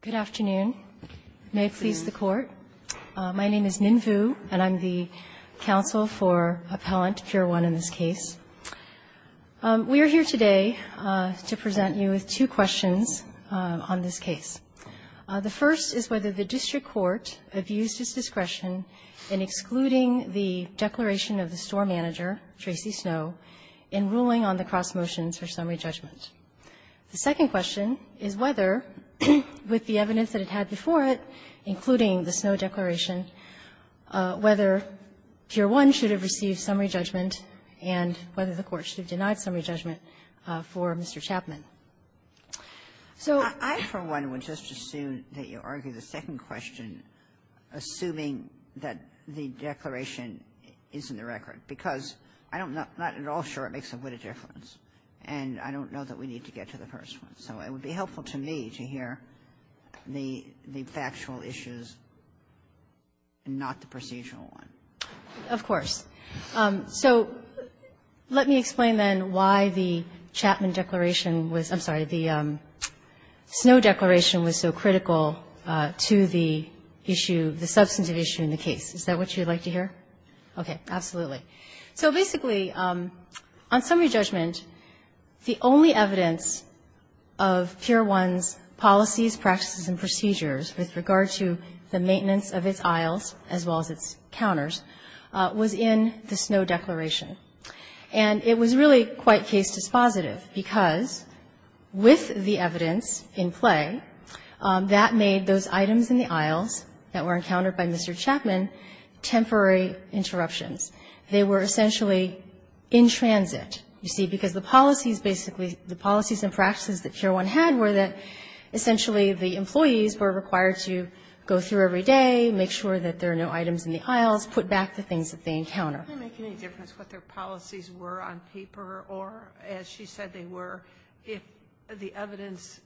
Good afternoon. May it please the Court. My name is Ninh Vu, and I'm the counsel for Appellant Pier 1 in this case. We are here today to present you with two questions on this case. The first is whether the district court abused its discretion in excluding the declaration of the store manager, Tracy Snowe, in ruling on the cross-motions for summary judgment. The second question is whether, with the evidence that it had before it, including the Snowe declaration, whether Pier 1 should have received summary judgment and whether the Court should have denied summary judgment for Mr. Chapman. So I, for one, would just assume that you argue the second question, assuming that the declaration is in the record, because I'm not at all sure it makes a good difference. And I don't know that we need to get to the first one. So it would be helpful to me to hear the factual issues, not the procedural one. Of course. So let me explain, then, why the Chapman declaration was — I'm sorry, the Snowe declaration was so critical to the issue, the substantive issue in the case. Is that what you'd like to hear? Okay. Absolutely. So basically, on summary judgment, the only evidence of Pier 1's policies, practices, and procedures with regard to the maintenance of its aisles, as well as its counters, was in the Snowe declaration. And it was really quite case dispositive, because with the evidence in play, that made those items in the aisles that were encountered by Mr. Chapman temporary interruptions. They were essentially in transit, you see, because the policies basically — the policies and practices that Pier 1 had were that essentially the employees were required to go through every day, make sure that there are no items in the aisles, put back the things that they encounter. Sotomayor, did that make any difference what their policies were on paper or, as she said they were, if the evidence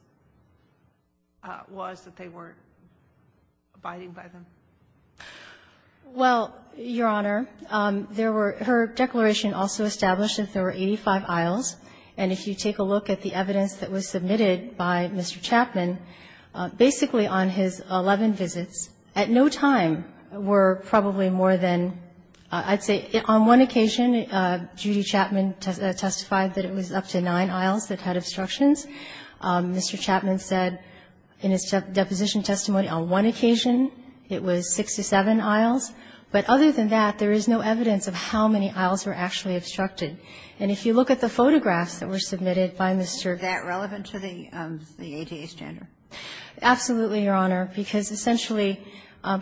was that they weren't abiding by them? Well, Your Honor, there were — her declaration also established that there were 85 aisles. And if you take a look at the evidence that was submitted by Mr. Chapman, basically on his 11 visits, at no time were probably more than — I'd say on one occasion, Judy Chapman testified that it was up to nine aisles that had obstructions. Mr. Chapman said in his deposition testimony on one occasion it was 67 aisles. But other than that, there is no evidence of how many aisles were actually obstructed. And if you look at the photographs that were submitted by Mr. — Is that relevant to the ADA standard? Absolutely, Your Honor, because essentially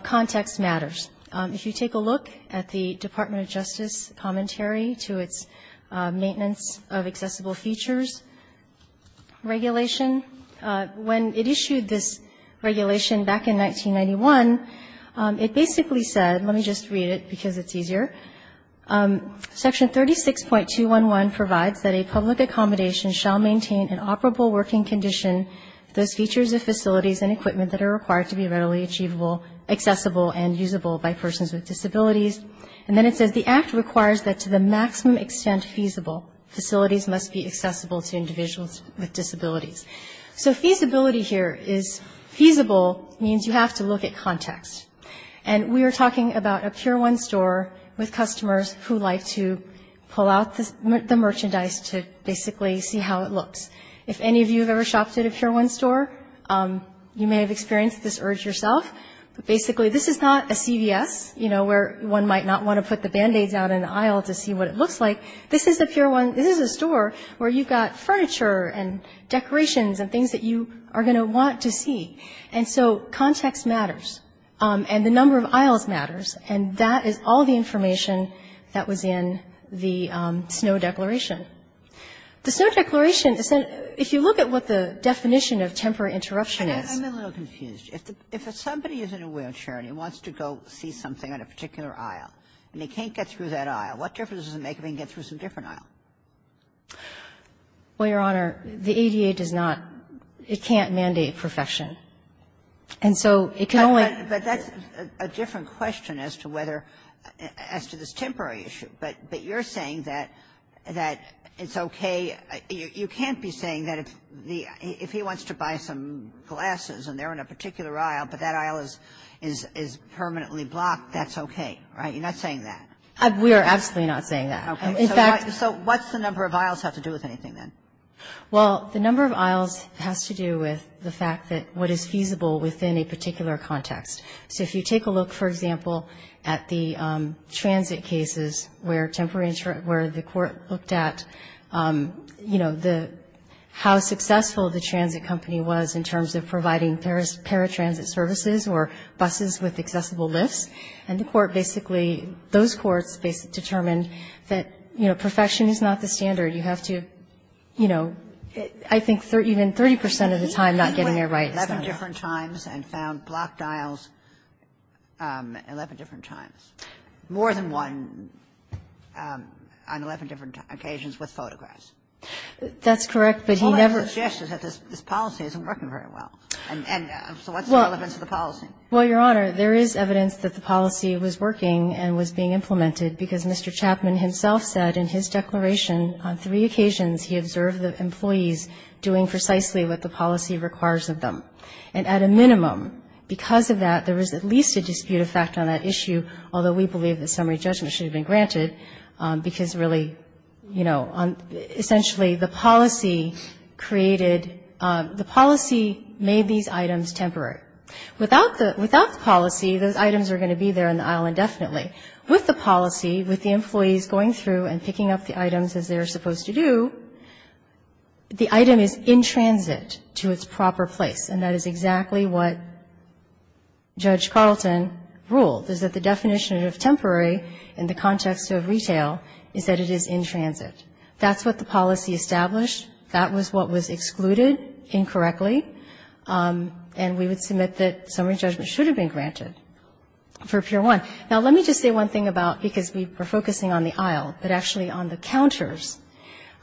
context matters. If you take a look at the Department of Justice commentary to its maintenance of accessible features regulation, when it issued this regulation back in 1991, it basically said — let me just read it because it's easier. Section 36.211 provides that a public accommodation shall maintain an operable working condition if those features of facilities and equipment that are required to be readily achievable, accessible, and usable by persons with disabilities. And then it says the act requires that to the maximum extent feasible, facilities must be accessible to individuals with disabilities. So feasibility here is — feasible means you have to look at context. And we are talking about a pure one store with customers who like to pull out the merchandise to basically see how it looks. If any of you have ever shopped at a pure one store, you may have experienced this urge yourself. But basically, this is not a CVS, you know, where one might not want to put the Band-Aids out in the aisle to see what it looks like. This is a pure one — this is a store where you've got furniture and decorations and things that you are going to want to see. And so context matters. And the number of aisles matters. And that is all the information that was in the Snow Declaration. The Snow Declaration, if you look at what the definition of temporary interruption is — Ginsburg. I'm a little confused. If somebody is in a wheelchair and he wants to go see something on a particular aisle, and he can't get through that aisle, what difference does it make if he can get through some different aisle? Well, Your Honor, the ADA does not — it can't mandate perfection. And so it can only — But that's a different question as to whether — as to this temporary issue. But you're saying that it's okay — you can't be saying that if the — if he wants to buy some glasses and they're on a particular aisle, but that aisle is permanently blocked, that's okay, right? You're not saying that. We are absolutely not saying that. Okay. So what's the number of aisles have to do with anything then? Well, the number of aisles has to do with the fact that what is feasible within a particular context. So if you take a look, for example, at the transit cases where temporary — where the court looked at, you know, the — how successful the transit company was in terms of providing paratransit services or buses with accessible lifts, and the court basically — those courts determined that, you know, perfection is not the standard. You have to, you know — I think even 30 percent of the time not getting it right. So the court looked at 11 different times and found blocked aisles 11 different times, more than one on 11 different occasions with photographs. That's correct, but he never — The whole idea is that this policy isn't working very well. And so what's the relevance of the policy? Well, Your Honor, there is evidence that the policy was working and was being implemented because Mr. Chapman himself said in his declaration on three occasions he observed the employees doing precisely what the policy requires of them. And at a minimum, because of that, there is at least a dispute of fact on that issue, although we believe that summary judgment should have been granted, because really, you know, essentially the policy created — the policy made these items temporary. Without the — without the policy, those items are going to be there on the aisle indefinitely. With the policy, with the employees going through and picking up the items as they're supposed to do, the item is in transit to its proper place. And that is exactly what Judge Carlton ruled, is that the definition of temporary in the context of retail is that it is in transit. That's what the policy established. That was what was excluded incorrectly. And we would submit that summary judgment should have been granted for Pier 1. Now, let me just say one thing about — because we were focusing on the aisle, but actually on the counters.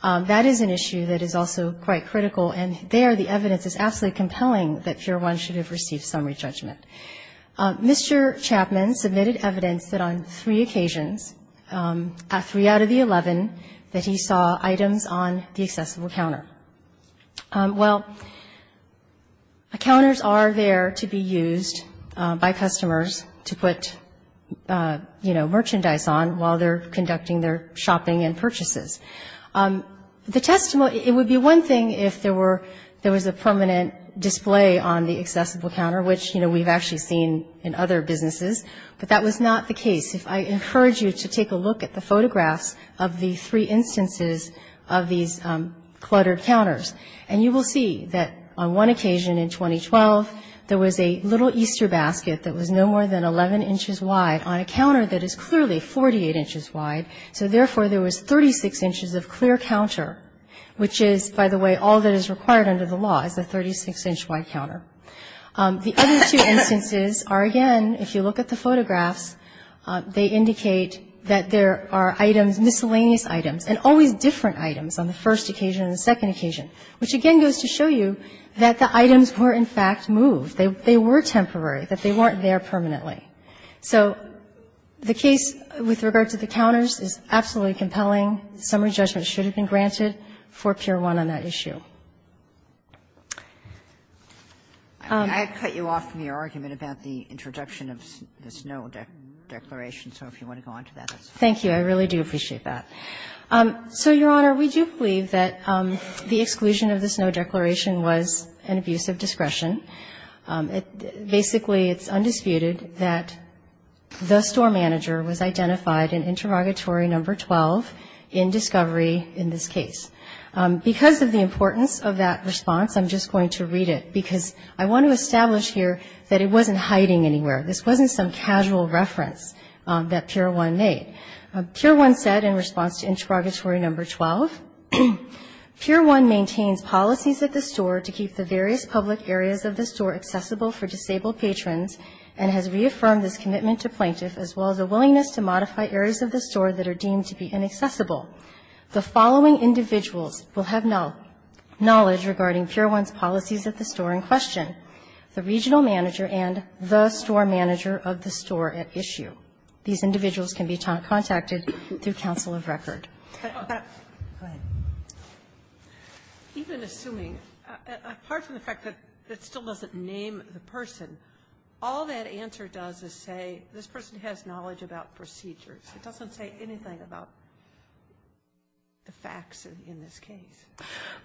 That is an issue that is also quite critical. And there, the evidence is absolutely compelling that Pier 1 should have received summary judgment. Mr. Chapman submitted evidence that on three occasions — three out of the 11 — that he saw items on the accessible counter. Well, the counters are there to be used by customers to put, you know, merchandise The testimony — it would be one thing if there were — there was a permanent display on the accessible counter, which, you know, we've actually seen in other businesses. But that was not the case. If I encourage you to take a look at the photographs of the three instances of these cluttered counters, and you will see that on one occasion in 2012, there was a little Easter basket that was no more than 11 inches wide on a counter that is clearly 48 inches wide. So therefore, there was 36 inches of clear counter, which is, by the way, all that is required under the law is a 36-inch wide counter. The other two instances are, again, if you look at the photographs, they indicate that there are items, miscellaneous items, and always different items on the first occasion and the second occasion, which again goes to show you that the items were, in fact, moved. They were temporary, that they weren't there permanently. So the case with regard to the counters is absolutely compelling. Summary judgment should have been granted for Pier 1 on that issue. I had cut you off from your argument about the introduction of the Snow Declaration, so if you want to go on to that. Thank you. I really do appreciate that. So, Your Honor, we do believe that the exclusion of the Snow Declaration was an abuse of discretion. Basically, it's undisputed that the store manager was identified in interrogatory number 12 in discovery in this case. Because of the importance of that response, I'm just going to read it, because I want to establish here that it wasn't hiding anywhere. This wasn't some casual reference that Pier 1 made. Pier 1 said, in response to interrogatory number 12, Pier 1 maintains policies at the store to keep the various public areas of the store accessible for disabled patrons and has reaffirmed this commitment to plaintiff as well as a willingness to modify areas of the store that are deemed to be inaccessible. The following individuals will have knowledge regarding Pier 1's policies at the store in question, the regional manager and the store manager of the store at issue. These individuals can be contacted through counsel of record. Go ahead. Even assuming, apart from the fact that it still doesn't name the person, all that answer does is say, this person has knowledge about procedures. It doesn't say anything about the facts in this case.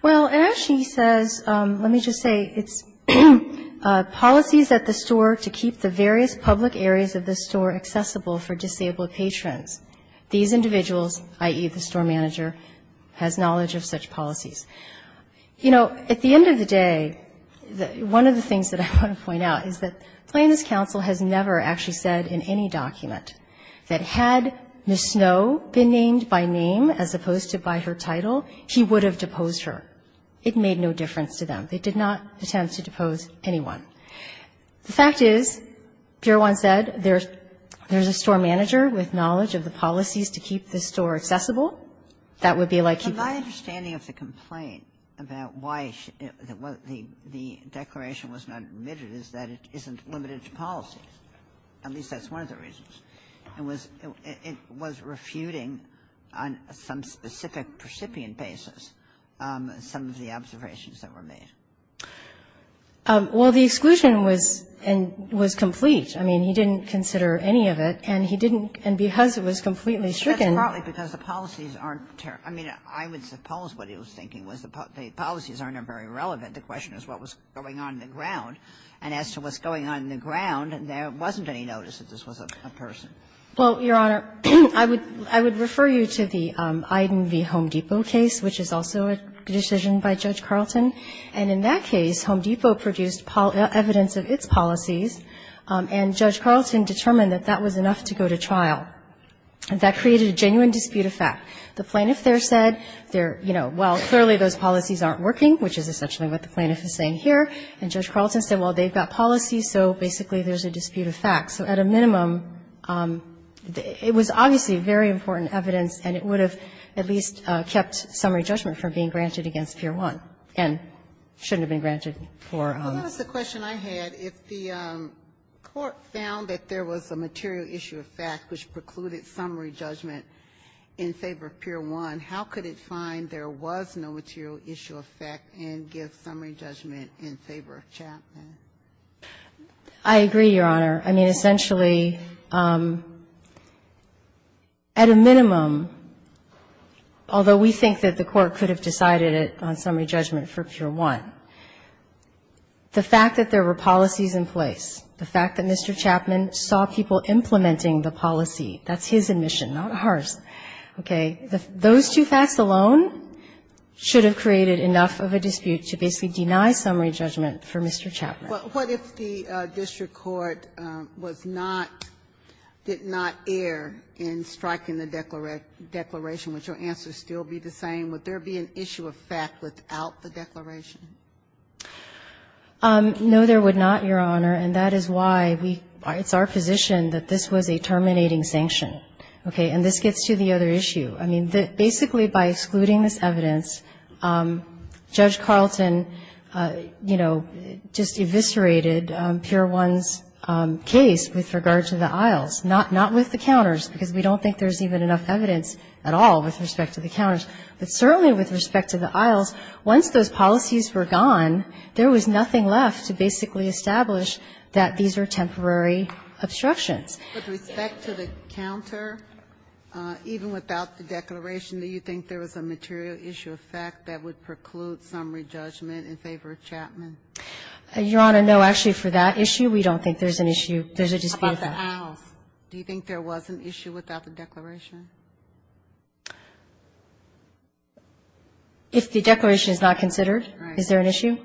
Well, as she says, let me just say, it's policies at the store to keep the various public areas of the store accessible for disabled patrons. These individuals, i.e., the store manager, has knowledge of such policies. You know, at the end of the day, one of the things that I want to point out is that Plaintiff's counsel has never actually said in any document that had Ms. Snow been named by name as opposed to by her title, he would have deposed her. It made no difference to them. They did not attempt to depose anyone. The fact is, Pier 1 said, there's a store manager with knowledge of the policies to keep the store accessible. That would be like keeping the store accessible. But my understanding of the complaint about why the declaration was not admitted is that it isn't limited to policies. At least that's one of the reasons. It was refuting on some specific percipient basis some of the observations that were made. Well, the exclusion was complete. I mean, he didn't consider any of it. And he didn't, and because it was completely stricken. That's partly because the policies aren't, I mean, I would suppose what he was thinking was the policies aren't very relevant. The question is what was going on in the ground. And as to what's going on in the ground, there wasn't any notice that this was a person. Well, Your Honor, I would refer you to the Iden v. Home Depot case, which is also a decision by Judge Carlton. And in that case, Home Depot produced evidence of its policies, and Judge Carlton determined that that was enough to go to trial. That created a genuine dispute of fact. The plaintiff there said, you know, well, clearly those policies aren't working, which is essentially what the plaintiff is saying here. And Judge Carlton said, well, they've got policies, so basically there's a dispute of fact. So at a minimum, it was obviously very important evidence, and it would have at least kept summary judgment from being granted against Pier 1. And it shouldn't have been granted. Ginsburg. Well, that was the question I had. If the Court found that there was a material issue of fact which precluded summary judgment in favor of Pier 1, how could it find there was no material issue of fact and give summary judgment in favor of Chapman? I agree, Your Honor. I mean, essentially, at a minimum, although we think that the Court could have decided it on summary judgment for Pier 1, the fact that there were policies in place, the fact that Mr. Chapman saw people implementing the policy, that's his admission, not ours, okay, those two facts alone should have created enough of a dispute to basically deny summary judgment for Mr. Chapman. What if the district court was not, did not err in striking the declaration? Would your answer still be the same? Would there be an issue of fact without the declaration? No, there would not, Your Honor. And that is why we, it's our position that this was a terminating sanction. Okay? And this gets to the other issue. I mean, basically by excluding this evidence, Judge Carlton, you know, just eviscerated Pier 1's case with regard to the aisles, not with the counters, because we don't think there's even enough evidence at all with respect to the counters. But certainly with respect to the aisles, once those policies were gone, there was nothing left to basically establish that these are temporary obstructions. With respect to the counter, even without the declaration, do you think there was a material issue of fact that would preclude summary judgment in favor of Chapman? Your Honor, no. Actually, for that issue, we don't think there's an issue. There's a dispute of fact. How about the aisles? Do you think there was an issue without the declaration? If the declaration is not considered, is there an issue?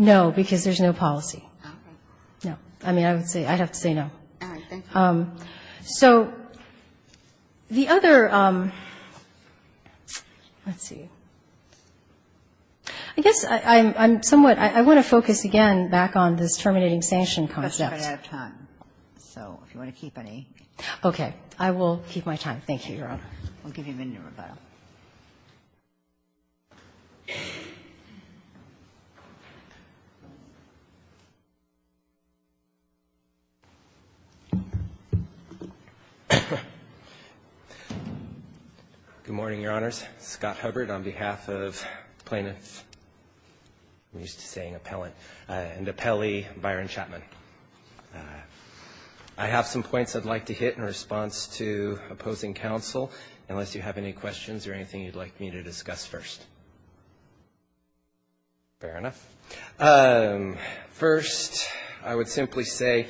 No, because there's no policy. Okay. No. I mean, I would say, I'd have to say no. All right. Thank you. So the other, let's see. I guess I'm somewhat, I want to focus again back on this terminating sanction concept. We're running out of time. So if you want to keep any. Okay. I will keep my time. Thank you, Your Honor. We'll give you a minute to rebuttal. Good morning, Your Honors. Scott Hubbard on behalf of plaintiff. I'm used to saying appellant. And appellee, Byron Chapman. I have some points I'd like to hit in response to opposing counsel, unless you have any questions or anything you'd like me to discuss first. Fair enough. First, I would simply say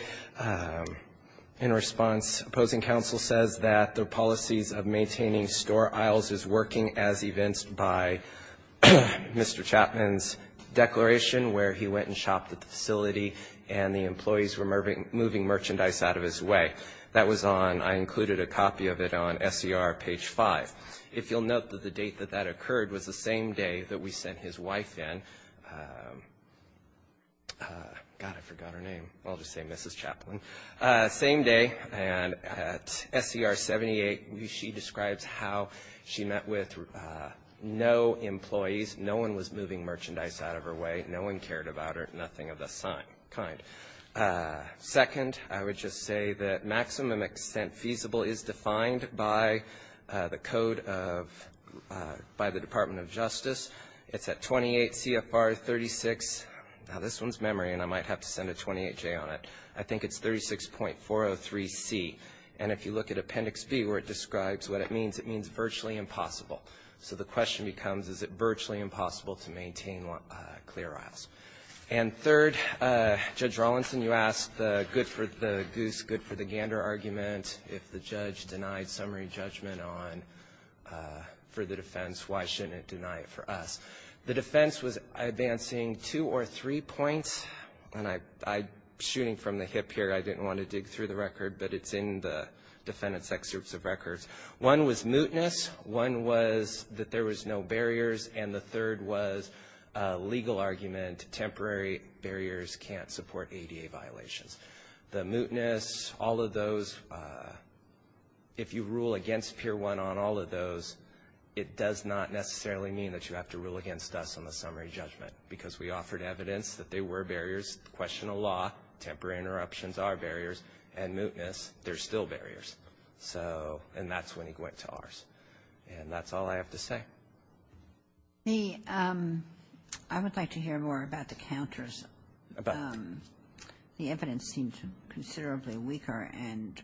in response, opposing counsel says that the policies of maintaining store aisles is working as evinced by Mr. Chapman's declaration where he went and shopped at the facility and the employees were moving merchandise out of his way. That was on, I included a copy of it on SER page 5. If you'll note that the date that that occurred was the same day that we sent his wife in. God, I forgot her name. I'll just say Mrs. Chapman. Same day. And at SER 78, she describes how she met with no employees. No one was moving merchandise out of her way. No one cared about her. Nothing of the kind. Second, I would just say that maximum extent feasible is defined by the Code of, by the Department of Justice. It's at 28 CFR 36. Now, this one's memory, and I might have to send a 28J on it. I think it's 36.403C. And if you look at Appendix B where it describes what it means, it means virtually impossible. So the question becomes, is it virtually impossible to maintain clear aisles? And third, Judge Rawlinson, you asked the good for the goose, good for the gander argument. If the judge denied summary judgment on, for the defense, why shouldn't it deny it for us? The defense was advancing two or three points, and I'm shooting from the hip here. I didn't want to dig through the record, but it's in the defendant's excerpts of records. One was mootness. One was that there was no barriers. And the third was a legal argument. Temporary barriers can't support ADA violations. The mootness, all of those, if you rule against Pier 1 on all of those, it does not necessarily mean that you have to rule against us on the summary judgment, because we offered evidence that there were barriers. Question of law, temporary interruptions are barriers. And mootness, there's still barriers. And that's when he went to ours. And that's all I have to say. I would like to hear more about the counters. The evidence seemed considerably weaker and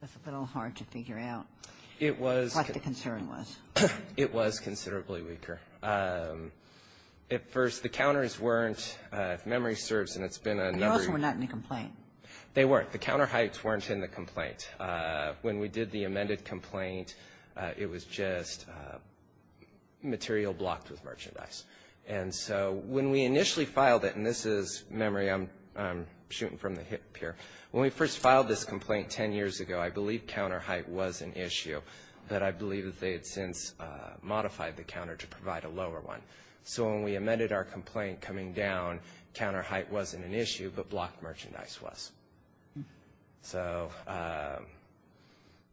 was a little hard to figure out. It was. What the concern was. It was considerably weaker. At first, the counters weren't, if memory serves, and it's been a number of years. The counters were not in the complaint. They weren't. The counter heights weren't in the complaint. When we did the amended complaint, it was just material blocked with merchandise. And so when we initially filed it, and this is memory, I'm shooting from the hip here. When we first filed this complaint 10 years ago, I believe counter height was an issue. But I believe that they had since modified the counter to provide a lower one. So when we amended our complaint coming down, counter height wasn't an issue, but blocked merchandise was. So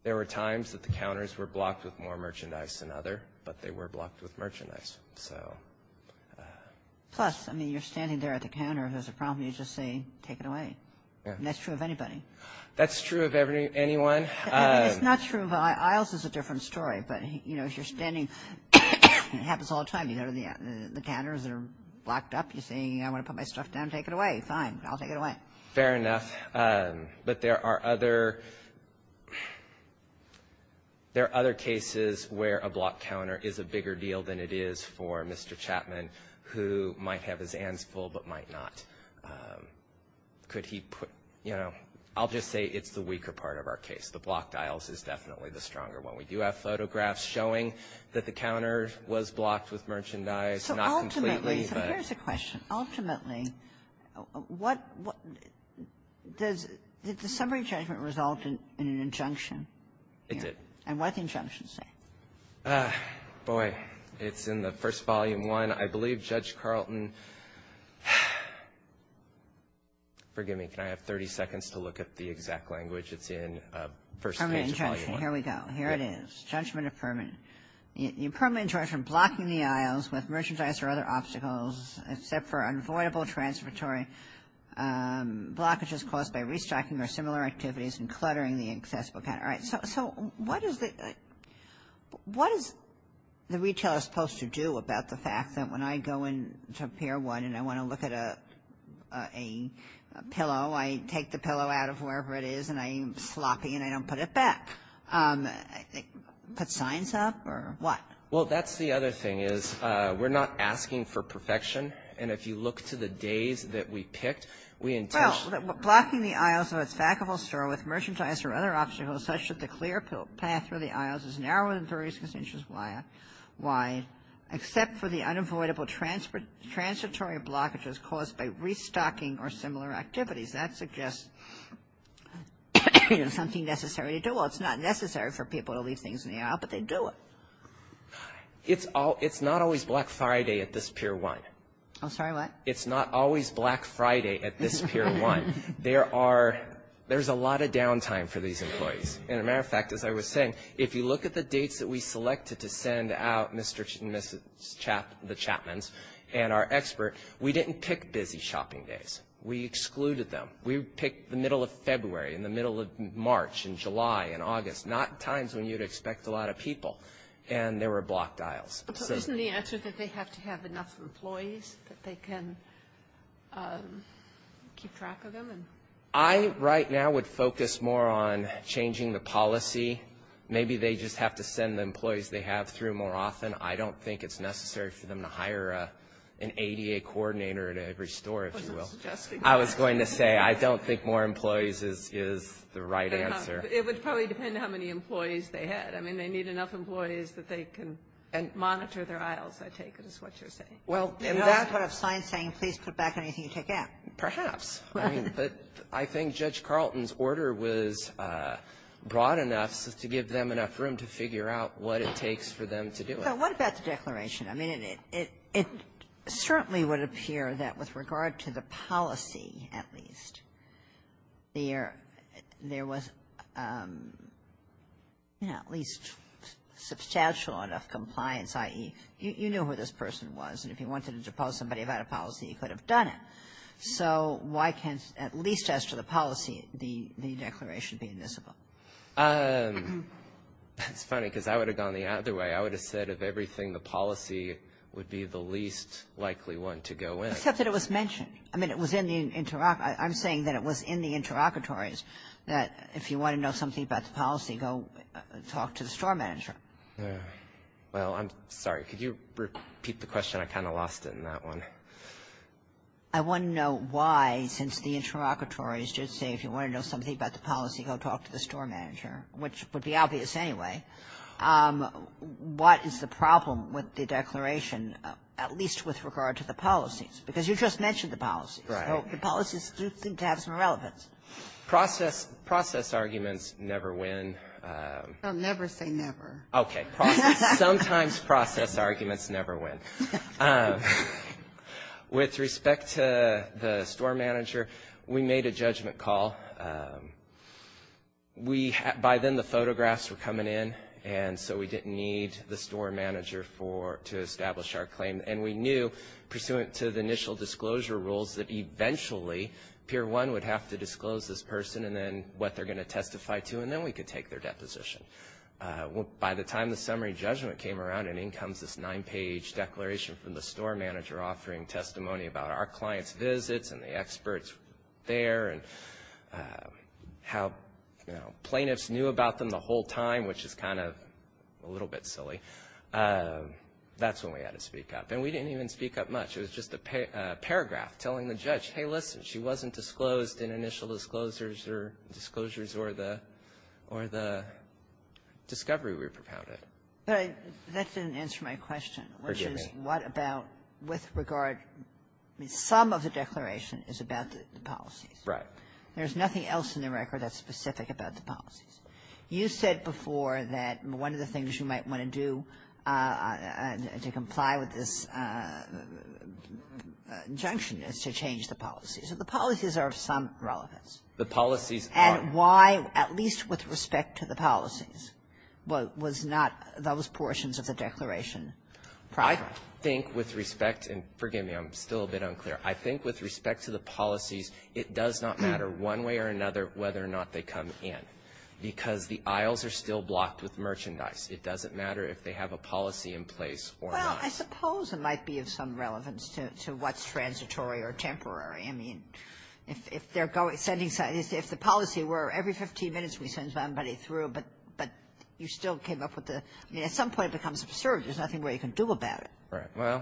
there were times that the counters were blocked with more merchandise than other, but they were blocked with merchandise. Plus, I mean, you're standing there at the counter. If there's a problem, you just say, take it away. And that's true of anybody. That's true of anyone. It's not true of Iles. Iles is a different story. But, you know, if you're standing, it happens all the time. You go to the counters that are blocked up. You're saying, I want to put my stuff down, take it away. Fine. I'll take it away. Fair enough. But there are other cases where a blocked counter is a bigger deal than it is for Mr. Chapman, who might have his hands full but might not. Could he put, you know, I'll just say it's the weaker part of our case. The blocked Iles is definitely the stronger one. We do have photographs showing that the counter was blocked with merchandise, not completely, but — Kagan. So ultimately, so here's a question. Ultimately, what — what — does — did the summary judgment result in an injunction? It did. And what did the injunction say? Boy, it's in the first Volume I. I believe Judge Carlton — forgive me. Can I have 30 seconds to look at the exact language? It's in the first page of Volume I. Permanent injunction. Here we go. Here it is. Judgment of permanent. The impermanent injunction, blocking the Iles with merchandise or other obstacles, except for unavoidable transitory blockages caused by restocking or similar activities and cluttering the accessible counter. Kagan. All right. So what is the — what is the retailer supposed to do about the fact that when I go into Pier 1 and I want to look at a — a pillow, I take the pillow out of wherever it is and I'm sloppy and I don't put it back? Put signs up or what? Well, that's the other thing, is we're not asking for perfection. And if you look to the days that we picked, we — Well, blocking the Iles of its back of a store with merchandise or other obstacles such that the clear path through the Iles is narrower than 30 square inches wide, except for the unavoidable transitory blockages caused by restocking or similar activities. That suggests, you know, something necessary to do. Well, it's not necessary for people to leave things in the aisle, but they do it. It's not always Black Friday at this Pier 1. I'm sorry, what? It's not always Black Friday at this Pier 1. There are — there's a lot of downtime for these employees. As a matter of fact, as I was saying, if you look at the dates that we selected to send out Mr. and Mrs. Chapman — the Chapmans and our expert, we didn't pick busy shopping days. We excluded them. We picked the middle of February and the middle of March and July and August, not times when you'd expect a lot of people, and there were blocked aisles. Isn't the answer that they have to have enough employees that they can keep track of them? I, right now, would focus more on changing the policy. Maybe they just have to send the employees they have through more often. I don't think it's necessary for them to hire an ADA coordinator at every store, if you will. I was going to say, I don't think more employees is the right answer. It would probably depend on how many employees they had. I mean, they need enough employees that they can monitor their aisles, I take it, is what you're saying. And that's what I'm saying, please put back anything you take out. Perhaps. But I think Judge Carlton's order was broad enough to give them enough room to figure out what it takes for them to do it. So what about the declaration? I mean, it certainly would appear that with regard to the policy, at least, there was, you know, at least substantial enough compliance, i.e., you knew who this person was. And if you wanted to depose somebody without a policy, you could have done it. So why can't, at least as to the policy, the declaration be admissible? That's funny, because I would have gone the other way. I would have said, of everything, the policy would be the least likely one to go in. Except that it was mentioned. I mean, I'm saying that it was in the interlocutories that if you want to know something about the policy, go talk to the store manager. Well, I'm sorry. Could you repeat the question? I kind of lost it in that one. I want to know why, since the interlocutories did say if you want to know something about the policy, go talk to the store manager, which would be obvious anyway. What is the problem with the declaration, at least with regard to the policies? Because you just mentioned the policies. Right. So the policies do seem to have some relevance. Process arguments never win. Well, never say never. Okay. Sometimes process arguments never win. With respect to the store manager, we made a judgment call. We, by then, the photographs were coming in, and so we didn't need the store manager for, to establish our claim. And we knew, pursuant to the initial disclosure rules, that eventually, Pier 1 would have to disclose this person and then what they're going to testify to, and then we could take their deposition. By the time the summary judgment came around, and in comes this nine-page declaration from the store manager offering testimony about our clients' visits and the experts there and how plaintiffs knew about them the whole time, which is kind of a little bit silly, that's when we had to speak up. And we didn't even speak up much. It was just a paragraph telling the judge, hey, listen, she wasn't disclosed in initial disclosures or the discovery we propounded. But that didn't answer my question, which is what about, with regard, some of the declaration is about the policies. Right. You said before that one of the things you might want to do to comply with this injunction is to change the policies. So the policies are of some relevance. The policies are. And why, at least with respect to the policies, was not those portions of the declaration proper? I think with respect, and forgive me, I'm still a bit unclear. I think with respect to the policies, it does not matter one way or another whether or not they come in, because the aisles are still blocked with merchandise. It doesn't matter if they have a policy in place or not. Well, I suppose it might be of some relevance to what's transitory or temporary. I mean, if they're going, sending somebody, if the policy were every 15 minutes we send somebody through, but you still came up with the, I mean, at some point it becomes absurd. There's nothing we can do about it. Right. Well,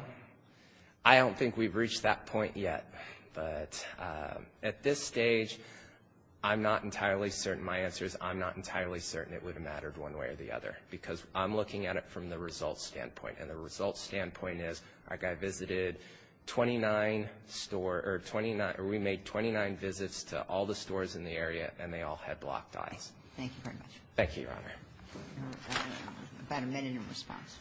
I don't think we've reached that point yet. But at this stage, I'm not entirely certain. My answer is I'm not entirely certain it would have mattered one way or the other, because I'm looking at it from the results standpoint. And the results standpoint is our guy visited 29 stores, or we made 29 visits to all the stores in the area, and they all had blocked aisles. Thank you very much. Thank you, Your Honor. About a minute in response.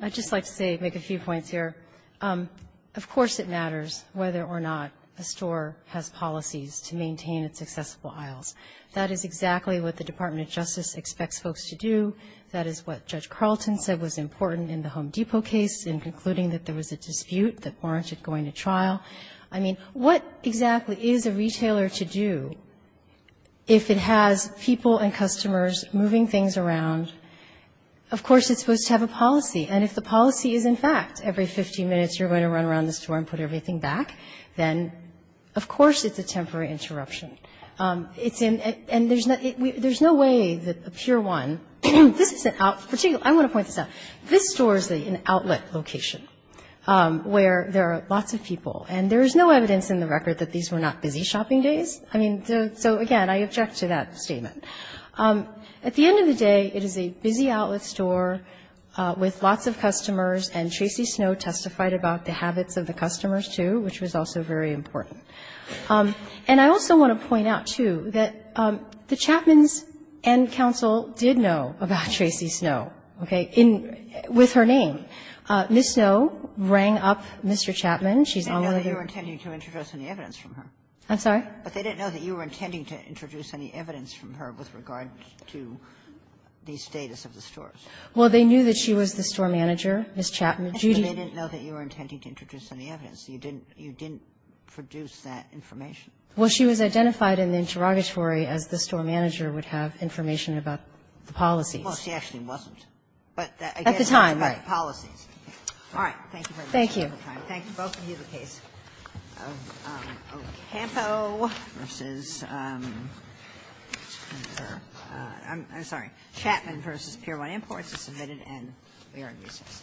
I'd just like to say, make a few points here. Of course it matters whether or not a store has policies to maintain its accessible aisles. That is exactly what the Department of Justice expects folks to do. That is what Judge Carlton said was important in the Home Depot case in concluding that there was a dispute that warranted going to trial. I mean, what exactly is a retailer to do if it has people and customers moving things around? Of course it's supposed to have a policy. And if the policy is, in fact, every 15 minutes you're going to run around the store and put everything back, then of course it's a temporary interruption. It's in – and there's no way that a pure one – this isn't out – I want to point this out. This store is an outlet location where there are lots of people. And there is no evidence in the record that these were not busy shopping days. I mean, so, again, I object to that statement. At the end of the day, it is a busy outlet store with lots of customers, and Tracy Snow testified about the habits of the customers, too, which was also very important. And I also want to point out, too, that the Chapmans and counsel did know about Tracy Snow. Okay. With her name. Ms. Snow rang up Mr. Chapman. She's on the other room. They didn't know that you were intending to introduce any evidence from her. I'm sorry? But they didn't know that you were intending to introduce any evidence from her with regard to the status of the stores. Well, they knew that she was the store manager. Ms. Chapman, Judy – But they didn't know that you were intending to introduce any evidence. You didn't – you didn't produce that information. Well, she was identified in the interrogatory as the store manager would have information about the policies. Well, she actually wasn't. But that, again, was the policies. At the time, right. All right. Thank you very much for your time. Thank you. Thank you. Both of you. The case of Ocampo versus – I'm sorry. Chapman v. Pier 1 Imports is submitted, and we are in recess. Thank you.